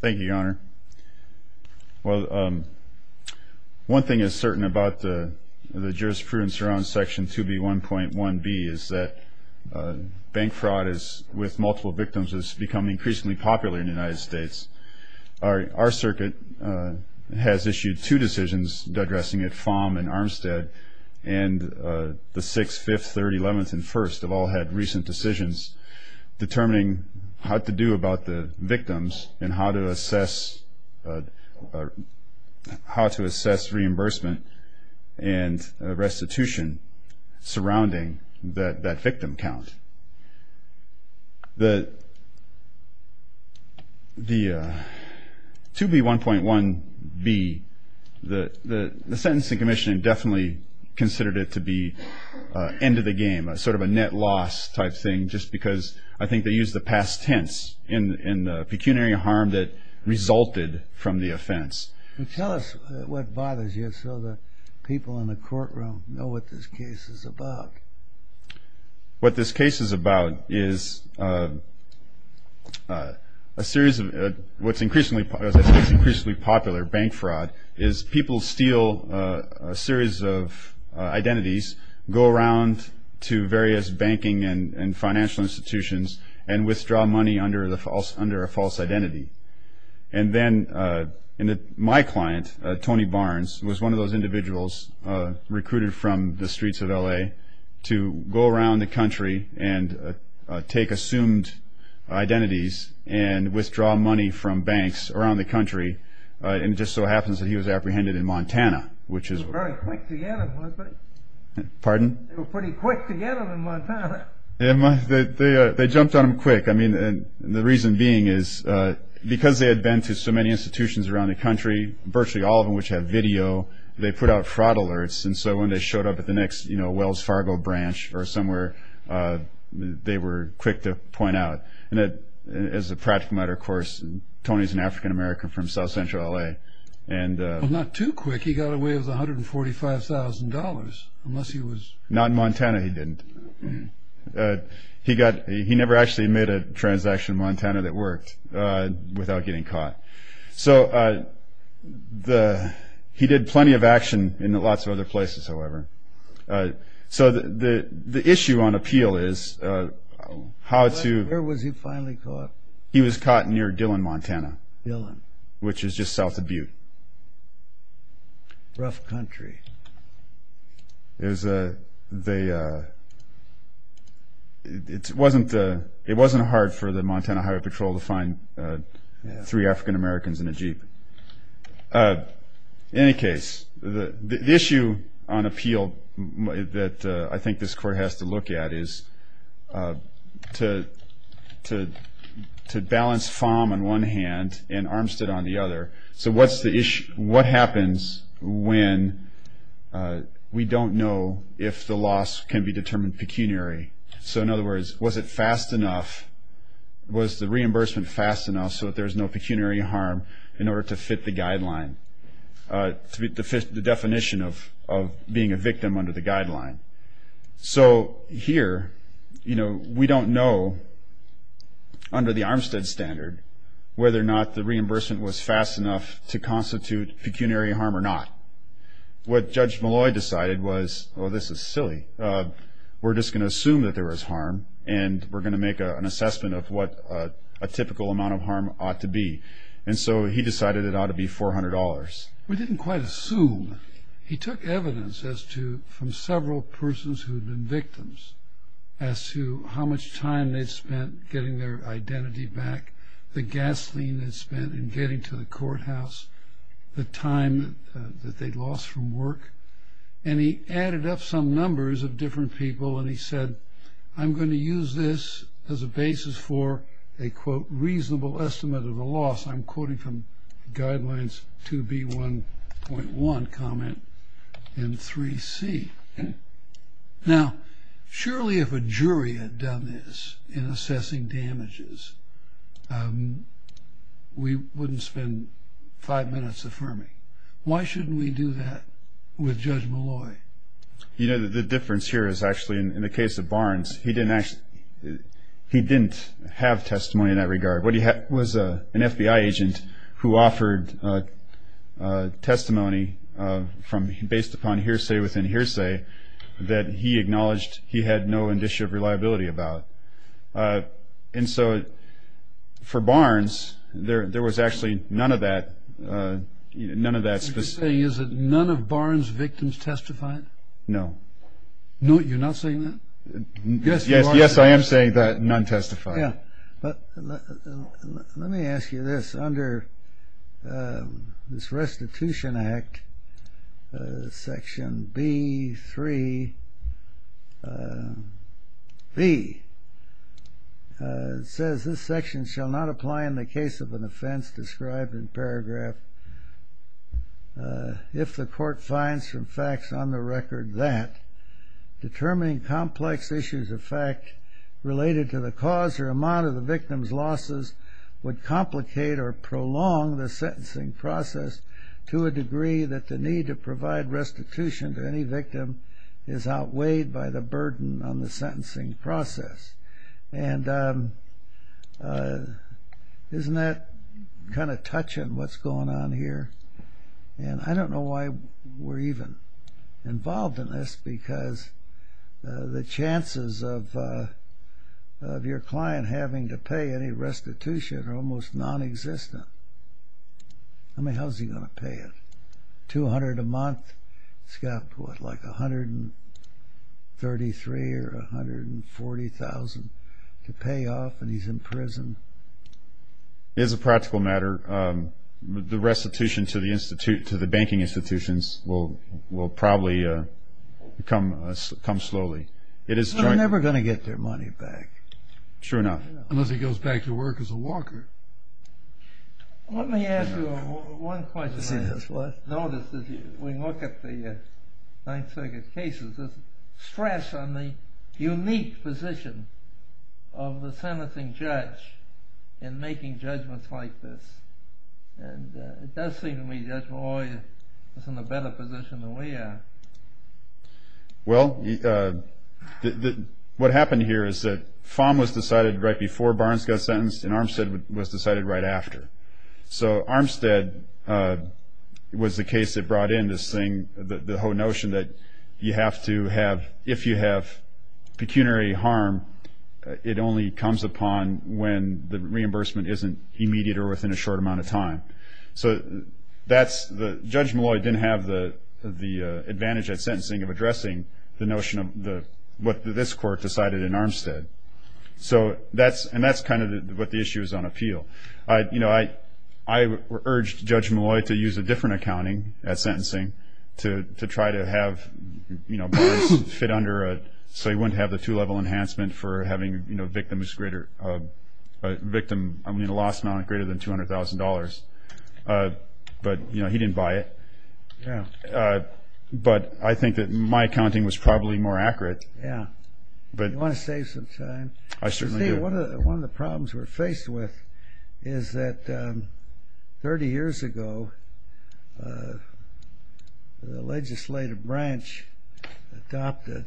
Thank you, Your Honor. Well, one thing is certain about the jurisprudence around Section 2B1.1b is that bank fraud with multiple victims has become increasingly popular in the United States. Our circuit has issued two decisions addressing it. FOM and Armstead and the 6th, 5th, 30th, 11th, and 1st have all had recent decisions determining how to do about the victims and how to assess reimbursement and restitution surrounding that victim count. The 2B1.1b, the sentencing commission definitely considered it to be end of the game, sort of a net loss type thing just because I think they used the past tense in the pecuniary harm that resulted from the offense. Tell us what bothers you so the people in the courtroom know what this case is about. My client, Tony Barnes, was one of those individuals recruited from the streets of L.A. to go around the country and take assumed identities and withdraw money from banks around the country. It just so happens that he was apprehended in Montana. They were very quick to get him, weren't they? Pardon? They were pretty quick to get him in Montana. They jumped on him quick. I mean, the reason being is because they had been to so many institutions around the country, virtually all of which have video, they put out fraud alerts. And so when they showed up at the next Wells Fargo branch or somewhere, they were quick to point out. And as a practical matter, of course, Tony's an African-American from South Central L.A. Well, not too quick. He got away with $145,000 unless he was... Not in Montana, he didn't. He never actually made a transaction in Montana that worked without getting caught. So he did plenty of action in lots of other places, however. So the issue on appeal is how to... Where was he finally caught? He was caught near Dillon, Montana. Dillon. Which is just south of Butte. Rough country. There's a... It wasn't hard for the Montana Highway Patrol to find three African-Americans in a Jeep. In any case, the issue on appeal that I think this court has to look at is to balance FOM on one hand and Armstead on the other. So what's the issue? What happens when we don't know if the loss can be determined pecuniary? So in other words, was it fast enough? Was the reimbursement fast enough so that there's no pecuniary harm in order to fit the guideline, to fit the definition of being a victim under the guideline? So here, we don't know, under the Armstead standard, whether or not the reimbursement was fast enough to constitute pecuniary harm or not. What Judge Malloy decided was, oh, this is silly. We're just going to assume that there was harm, and we're going to make an assessment of what a typical amount of harm ought to be. And so he decided it ought to be $400. We didn't quite assume. He took evidence as to, from several persons who had been victims, as to how much time they'd spent getting their identity back, the gasoline they'd spent in getting to the courthouse, the time that they'd lost from work. And he added up some numbers of different people, and he said, I'm going to use this as a basis for a, quote, reasonable estimate of a loss. I'm quoting from Guidelines 2B1.1 comment in 3C. Now, surely if a jury had done this in assessing damages, we wouldn't spend five minutes affirming. Why shouldn't we do that with Judge Malloy? You know, the difference here is actually, in the case of Barnes, he didn't have testimony in that regard. What he had was an FBI agent who offered testimony based upon hearsay within hearsay that he acknowledged he had no indicia of reliability about. And so for Barnes, there was actually none of that specific. Are you saying is that none of Barnes' victims testified? No. No, you're not saying that? Yes, I am saying that none testified. Yeah. But let me ask you this. Under this Restitution Act, Section B3B, it says, this section shall not apply in the case of an offense described in paragraph, if the court finds from facts on the record that, determining complex issues of fact related to the cause or amount of the victim's losses would complicate or prolong the sentencing process to a degree that the need to provide restitution to any victim is outweighed by the burden on the sentencing process. And isn't that kind of touching what's going on here? And I don't know why we're even involved in this because the chances of your client having to pay any restitution are almost nonexistent. I mean, how's he going to pay it? $200 a month, he's got, what, like $133,000 or $140,000 to pay off, and he's in prison. It is a practical matter. The restitution to the banking institutions will probably come slowly. But they're never going to get their money back. True enough. Unless he goes back to work as a walker. Let me ask you one question. Notice that when you look at the Ninth Circuit cases, there's stress on the unique position of the sentencing judge in making judgments like this. And it does seem to me the judge is always in a better position than we are. Well, what happened here is that FOM was decided right before Barnes got sentenced and Armstead was decided right after. So Armstead was the case that brought in this thing, the whole notion that you have to have, if you have pecuniary harm, it only comes upon when the reimbursement isn't immediate or within a short amount of time. So Judge Malloy didn't have the advantage at sentencing of addressing the notion of what this court decided in Armstead. And that's kind of what the issue is on appeal. I urged Judge Malloy to use a different accounting at sentencing to try to have Barnes fit under so he wouldn't have the two-level enhancement for having a victim in a loss amount greater than $200,000. But he didn't buy it. Yeah. But I think that my accounting was probably more accurate. Yeah. You want to save some time? I certainly do. One of the problems we're faced with is that 30 years ago the legislative branch adopted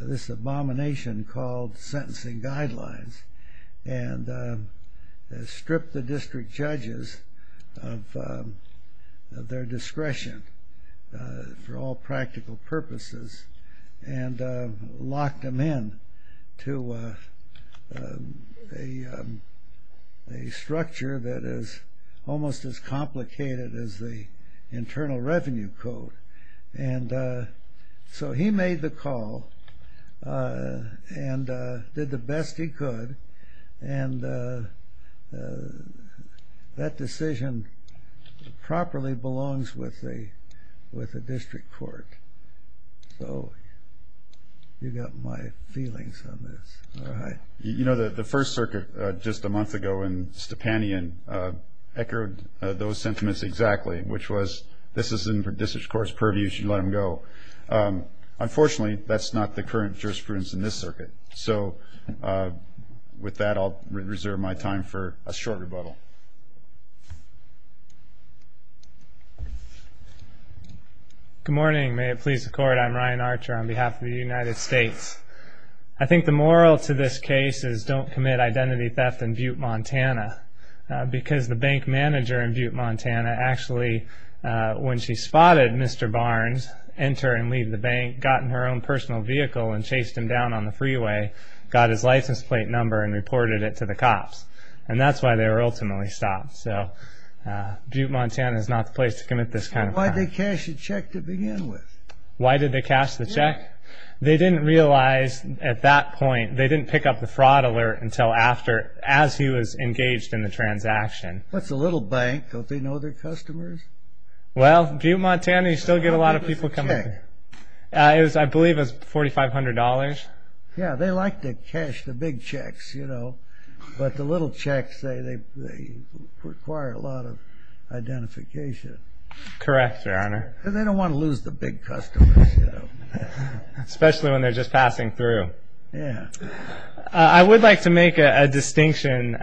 this abomination called sentencing guidelines and stripped the district judges of their discretion for all practical purposes and locked them in to a structure that is almost as complicated as the Internal Revenue Code. And so he made the call and did the best he could, and that decision properly belongs with the district court. So you've got my feelings on this. All right. You know, the First Circuit just a month ago in Stepanian echoed those sentiments exactly, which was this is in the district court's purview. You should let them go. Unfortunately, that's not the current jurisprudence in this circuit. So with that, I'll reserve my time for a short rebuttal. Go ahead. Good morning. May it please the Court. I'm Ryan Archer on behalf of the United States. I think the moral to this case is don't commit identity theft in Butte, Montana, because the bank manager in Butte, Montana actually, when she spotted Mr. Barnes enter and leave the bank, got in her own personal vehicle and chased him down on the freeway, got his license plate number and reported it to the cops. And that's why they were ultimately stopped. So Butte, Montana is not the place to commit this kind of crime. Why did they cash the check to begin with? Why did they cash the check? They didn't realize at that point, they didn't pick up the fraud alert until after, as he was engaged in the transaction. That's a little bank. Don't they know their customers? Well, Butte, Montana, you still get a lot of people coming in. How much was the check? Yeah, they like to cash the big checks, you know. But the little checks, they require a lot of identification. Correct, Your Honor. Because they don't want to lose the big customers, you know. Especially when they're just passing through. Yeah. I would like to make a distinction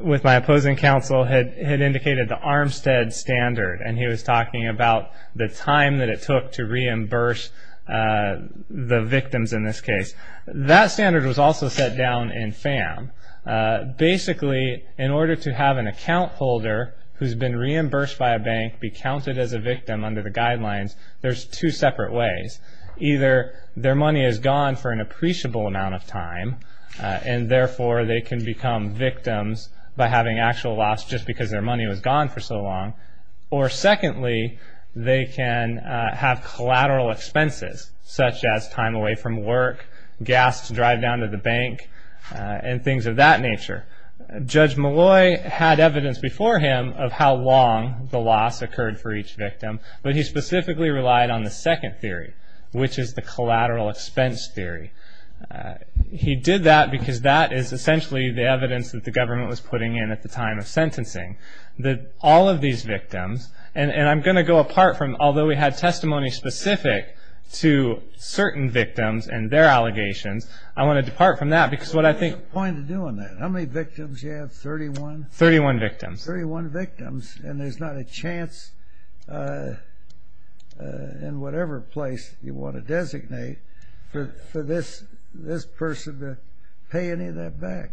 with my opposing counsel. He had indicated the Armstead standard, and he was talking about the time that it took to reimburse the victims in this case. That standard was also set down in FAM. Basically, in order to have an account holder who's been reimbursed by a bank be counted as a victim under the guidelines, there's two separate ways. Either their money is gone for an appreciable amount of time, and therefore they can become victims by having actual loss just because their money was gone for so long. Or secondly, they can have collateral expenses, such as time away from work, gas to drive down to the bank, and things of that nature. Judge Malloy had evidence before him of how long the loss occurred for each victim, but he specifically relied on the second theory, which is the collateral expense theory. He did that because that is essentially the evidence that the government was putting in at the time of sentencing. All of these victims, and I'm going to go apart from, although we had testimony specific to certain victims and their allegations, I want to depart from that because what I think... Well, what's the point of doing that? How many victims do you have, 31? 31 victims. 31 victims, and there's not a chance in whatever place you want to designate for this person to pay any of that back.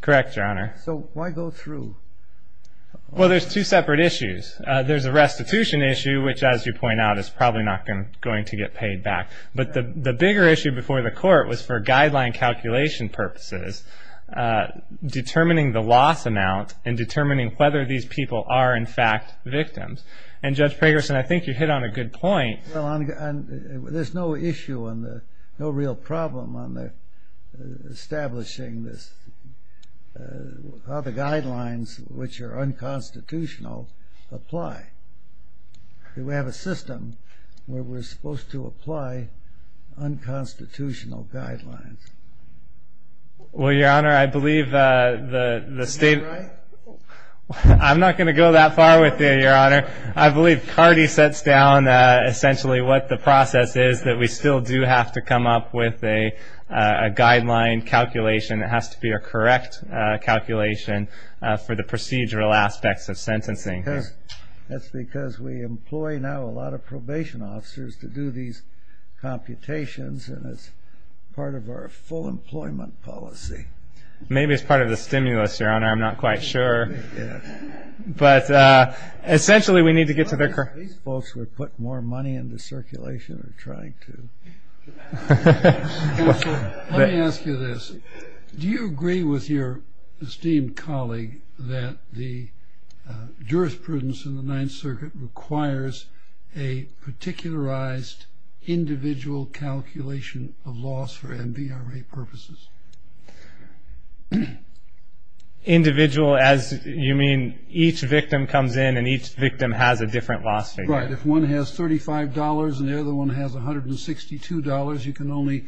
Correct, Your Honor. So why go through? Well, there's two separate issues. There's a restitution issue, which, as you point out, is probably not going to get paid back. But the bigger issue before the court was for guideline calculation purposes, determining the loss amount and determining whether these people are, in fact, victims. And, Judge Pragerson, I think you hit on a good point. Well, there's no issue and no real problem on establishing how the guidelines, which are unconstitutional, apply. We have a system where we're supposed to apply unconstitutional guidelines. Well, Your Honor, I believe the state... Am I right? I'm not going to go that far with you, Your Honor. I believe Cardi sets down essentially what the process is, that we still do have to come up with a guideline calculation that has to be a correct calculation for the procedural aspects of sentencing. That's because we employ now a lot of probation officers to do these computations, and it's part of our full employment policy. Maybe it's part of the stimulus, Your Honor. I'm not quite sure. But essentially we need to get to their... Are these folks who have put more money into circulation or trying to? Let me ask you this. Do you agree with your esteemed colleague that the jurisprudence in the Ninth Circuit requires a particularized individual calculation of loss for NBRA purposes? Individual, as you mean each victim comes in and each victim has a different loss figure. Right. If one has $35 and the other one has $162, you can only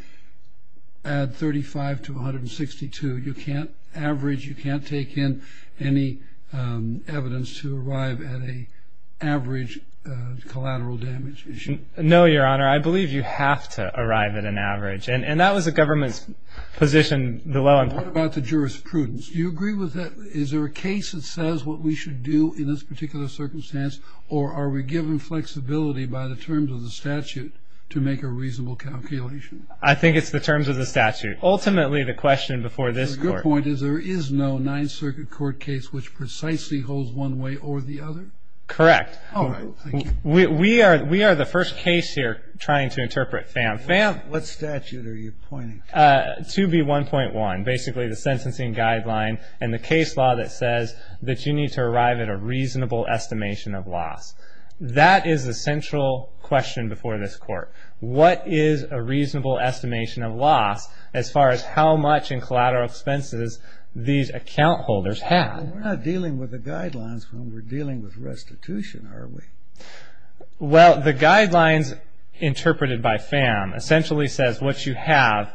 add $35 to $162. You can't average, you can't take in any evidence to arrive at an average collateral damage issue. No, Your Honor. I believe you have to arrive at an average. And that was the government's position. What about the jurisprudence? Do you agree with that? Is it the case that says what we should do in this particular circumstance or are we given flexibility by the terms of the statute to make a reasonable calculation? I think it's the terms of the statute. Ultimately, the question before this Court... So your point is there is no Ninth Circuit court case which precisely holds one way or the other? Correct. All right. We are the first case here trying to interpret FAM. What statute are you pointing to? 2B1.1, basically the sentencing guideline and the case law that says that you need to arrive at a reasonable estimation of loss. That is the central question before this Court. What is a reasonable estimation of loss as far as how much in collateral expenses these account holders have? We're not dealing with the guidelines when we're dealing with restitution, are we? Well, the guidelines interpreted by FAM essentially says what you have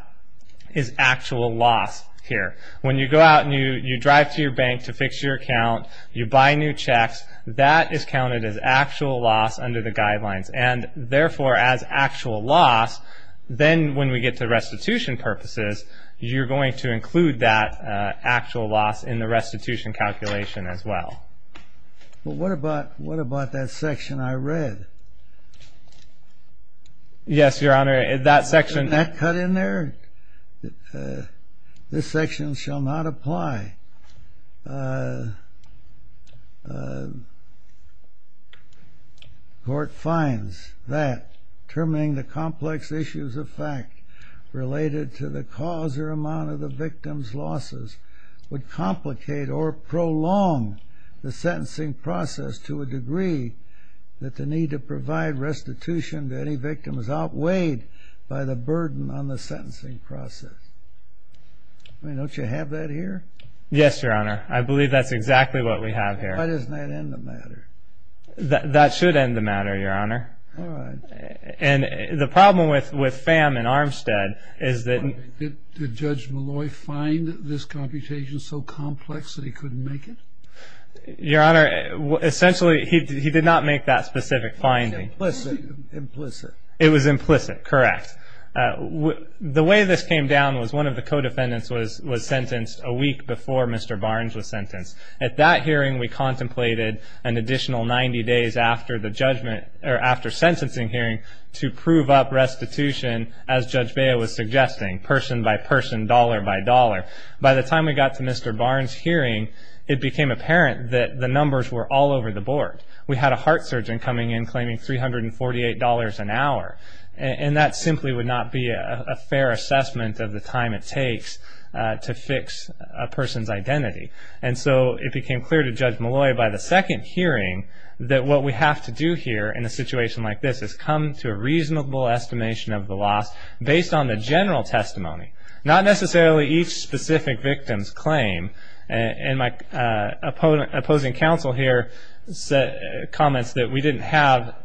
is actual loss here. When you go out and you drive to your bank to fix your account, you buy new checks, that is counted as actual loss under the guidelines and therefore as actual loss, then when we get to restitution purposes, you're going to include that actual loss in the restitution calculation as well. But what about that section I read? Yes, Your Honor, that section... Isn't that cut in there? This section shall not apply. Court finds that determining the complex issues of fact related to the cause or amount of the victim's losses would complicate or prolong the sentencing process to a degree that the need to provide restitution to any victim is outweighed by the burden on the sentencing process. Don't you have that here? Yes, Your Honor. I believe that's exactly what we have here. Why doesn't that end the matter? That should end the matter, Your Honor. All right. And the problem with FAM and Armstead is that... Did Judge Malloy find this computation so complex that he couldn't make it? Your Honor, essentially he did not make that specific finding. Implicit. It was implicit, correct. The way this came down was one of the co-defendants was sentenced a week before Mr. Barnes was sentenced. At that hearing, we contemplated an additional 90 days after the sentencing hearing to prove up restitution, as Judge Bea was suggesting, person by person, dollar by dollar. By the time we got to Mr. Barnes' hearing, it became apparent that the numbers were all over the board. We had a heart surgeon coming in claiming $348 an hour, and that simply would not be a fair assessment of the time it takes to fix a person's identity. And so it became clear to Judge Malloy by the second hearing that what we have to do here in a situation like this is come to a reasonable estimation of the loss not necessarily each specific victim's claim. And my opposing counsel here comments that we didn't have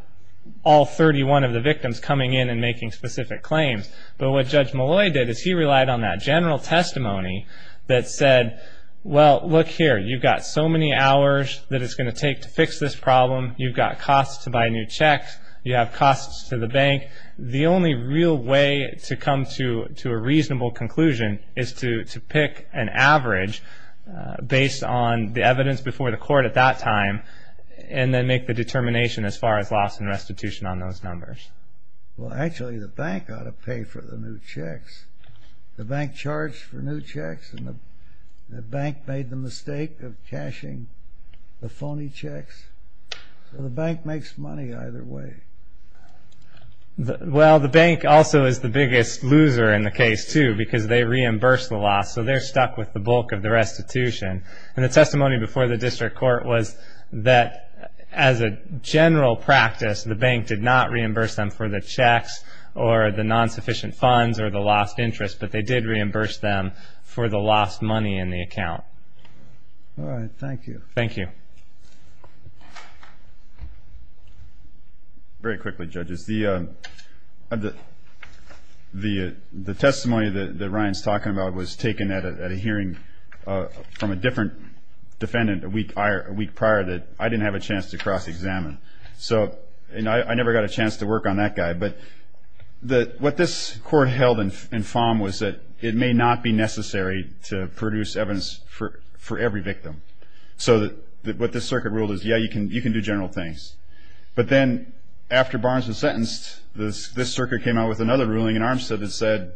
all 31 of the victims coming in and making specific claims. But what Judge Malloy did is he relied on that general testimony that said, well, look here, you've got so many hours that it's going to take to fix this problem. You've got costs to buy new checks. You have costs to the bank. The only real way to come to a reasonable conclusion is to pick an average based on the evidence before the court at that time and then make the determination as far as loss and restitution on those numbers. Well, actually, the bank ought to pay for the new checks. The bank charged for new checks, and the bank made the mistake of cashing the phony checks. So the bank makes money either way. Well, the bank also is the biggest loser in the case, too, because they reimbursed the loss, so they're stuck with the bulk of the restitution. And the testimony before the district court was that as a general practice, the bank did not reimburse them for the checks or the non-sufficient funds or the lost interest, but they did reimburse them for the lost money in the account. All right, thank you. Thank you. Very quickly, judges. The testimony that Ryan's talking about was taken at a hearing from a different defendant a week prior that I didn't have a chance to cross-examine, and I never got a chance to work on that guy. But what this court held in FOMM was that it may not be necessary to produce evidence for every victim. So what this circuit ruled is, yeah, you can do general things. But then after Barnes was sentenced, this circuit came out with another ruling in Armstead that said,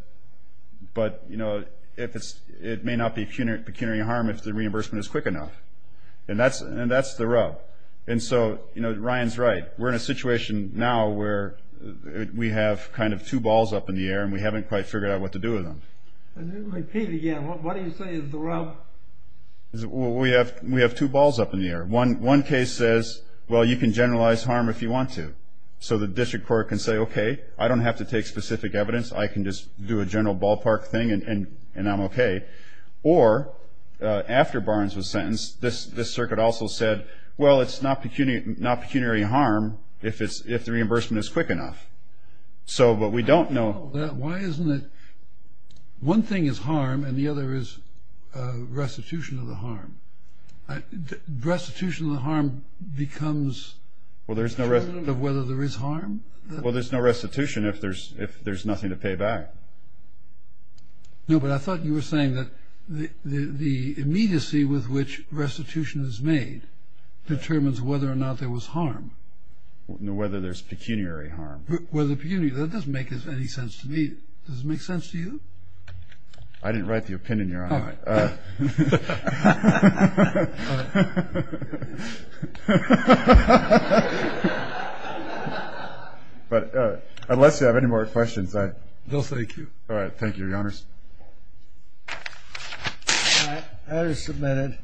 but, you know, it may not be pecuniary harm if the reimbursement is quick enough. And that's the rub. And so, you know, Ryan's right. We're in a situation now where we have kind of two balls up in the air and we haven't quite figured out what to do with them. And then repeat again. What do you say is the rub? We have two balls up in the air. One case says, well, you can generalize harm if you want to. So the district court can say, okay, I don't have to take specific evidence. I can just do a general ballpark thing and I'm okay. Or after Barnes was sentenced, this circuit also said, well, it's not pecuniary harm if the reimbursement is quick enough. But we don't know. Why isn't it one thing is harm and the other is restitution of the harm? Restitution of the harm becomes determinant of whether there is harm? Well, there's no restitution if there's nothing to pay back. No, but I thought you were saying that the immediacy with which restitution is made determines whether or not there was harm. Whether there's pecuniary harm. With a pecuniary, that doesn't make any sense to me. Does it make sense to you? I didn't write the opinion, Your Honor. All right. All right. All right. All right. All right. All right. All right. But unless you have any more questions, I – No, thank you. All right. Thank you, Your Honors. All right. That is submitted.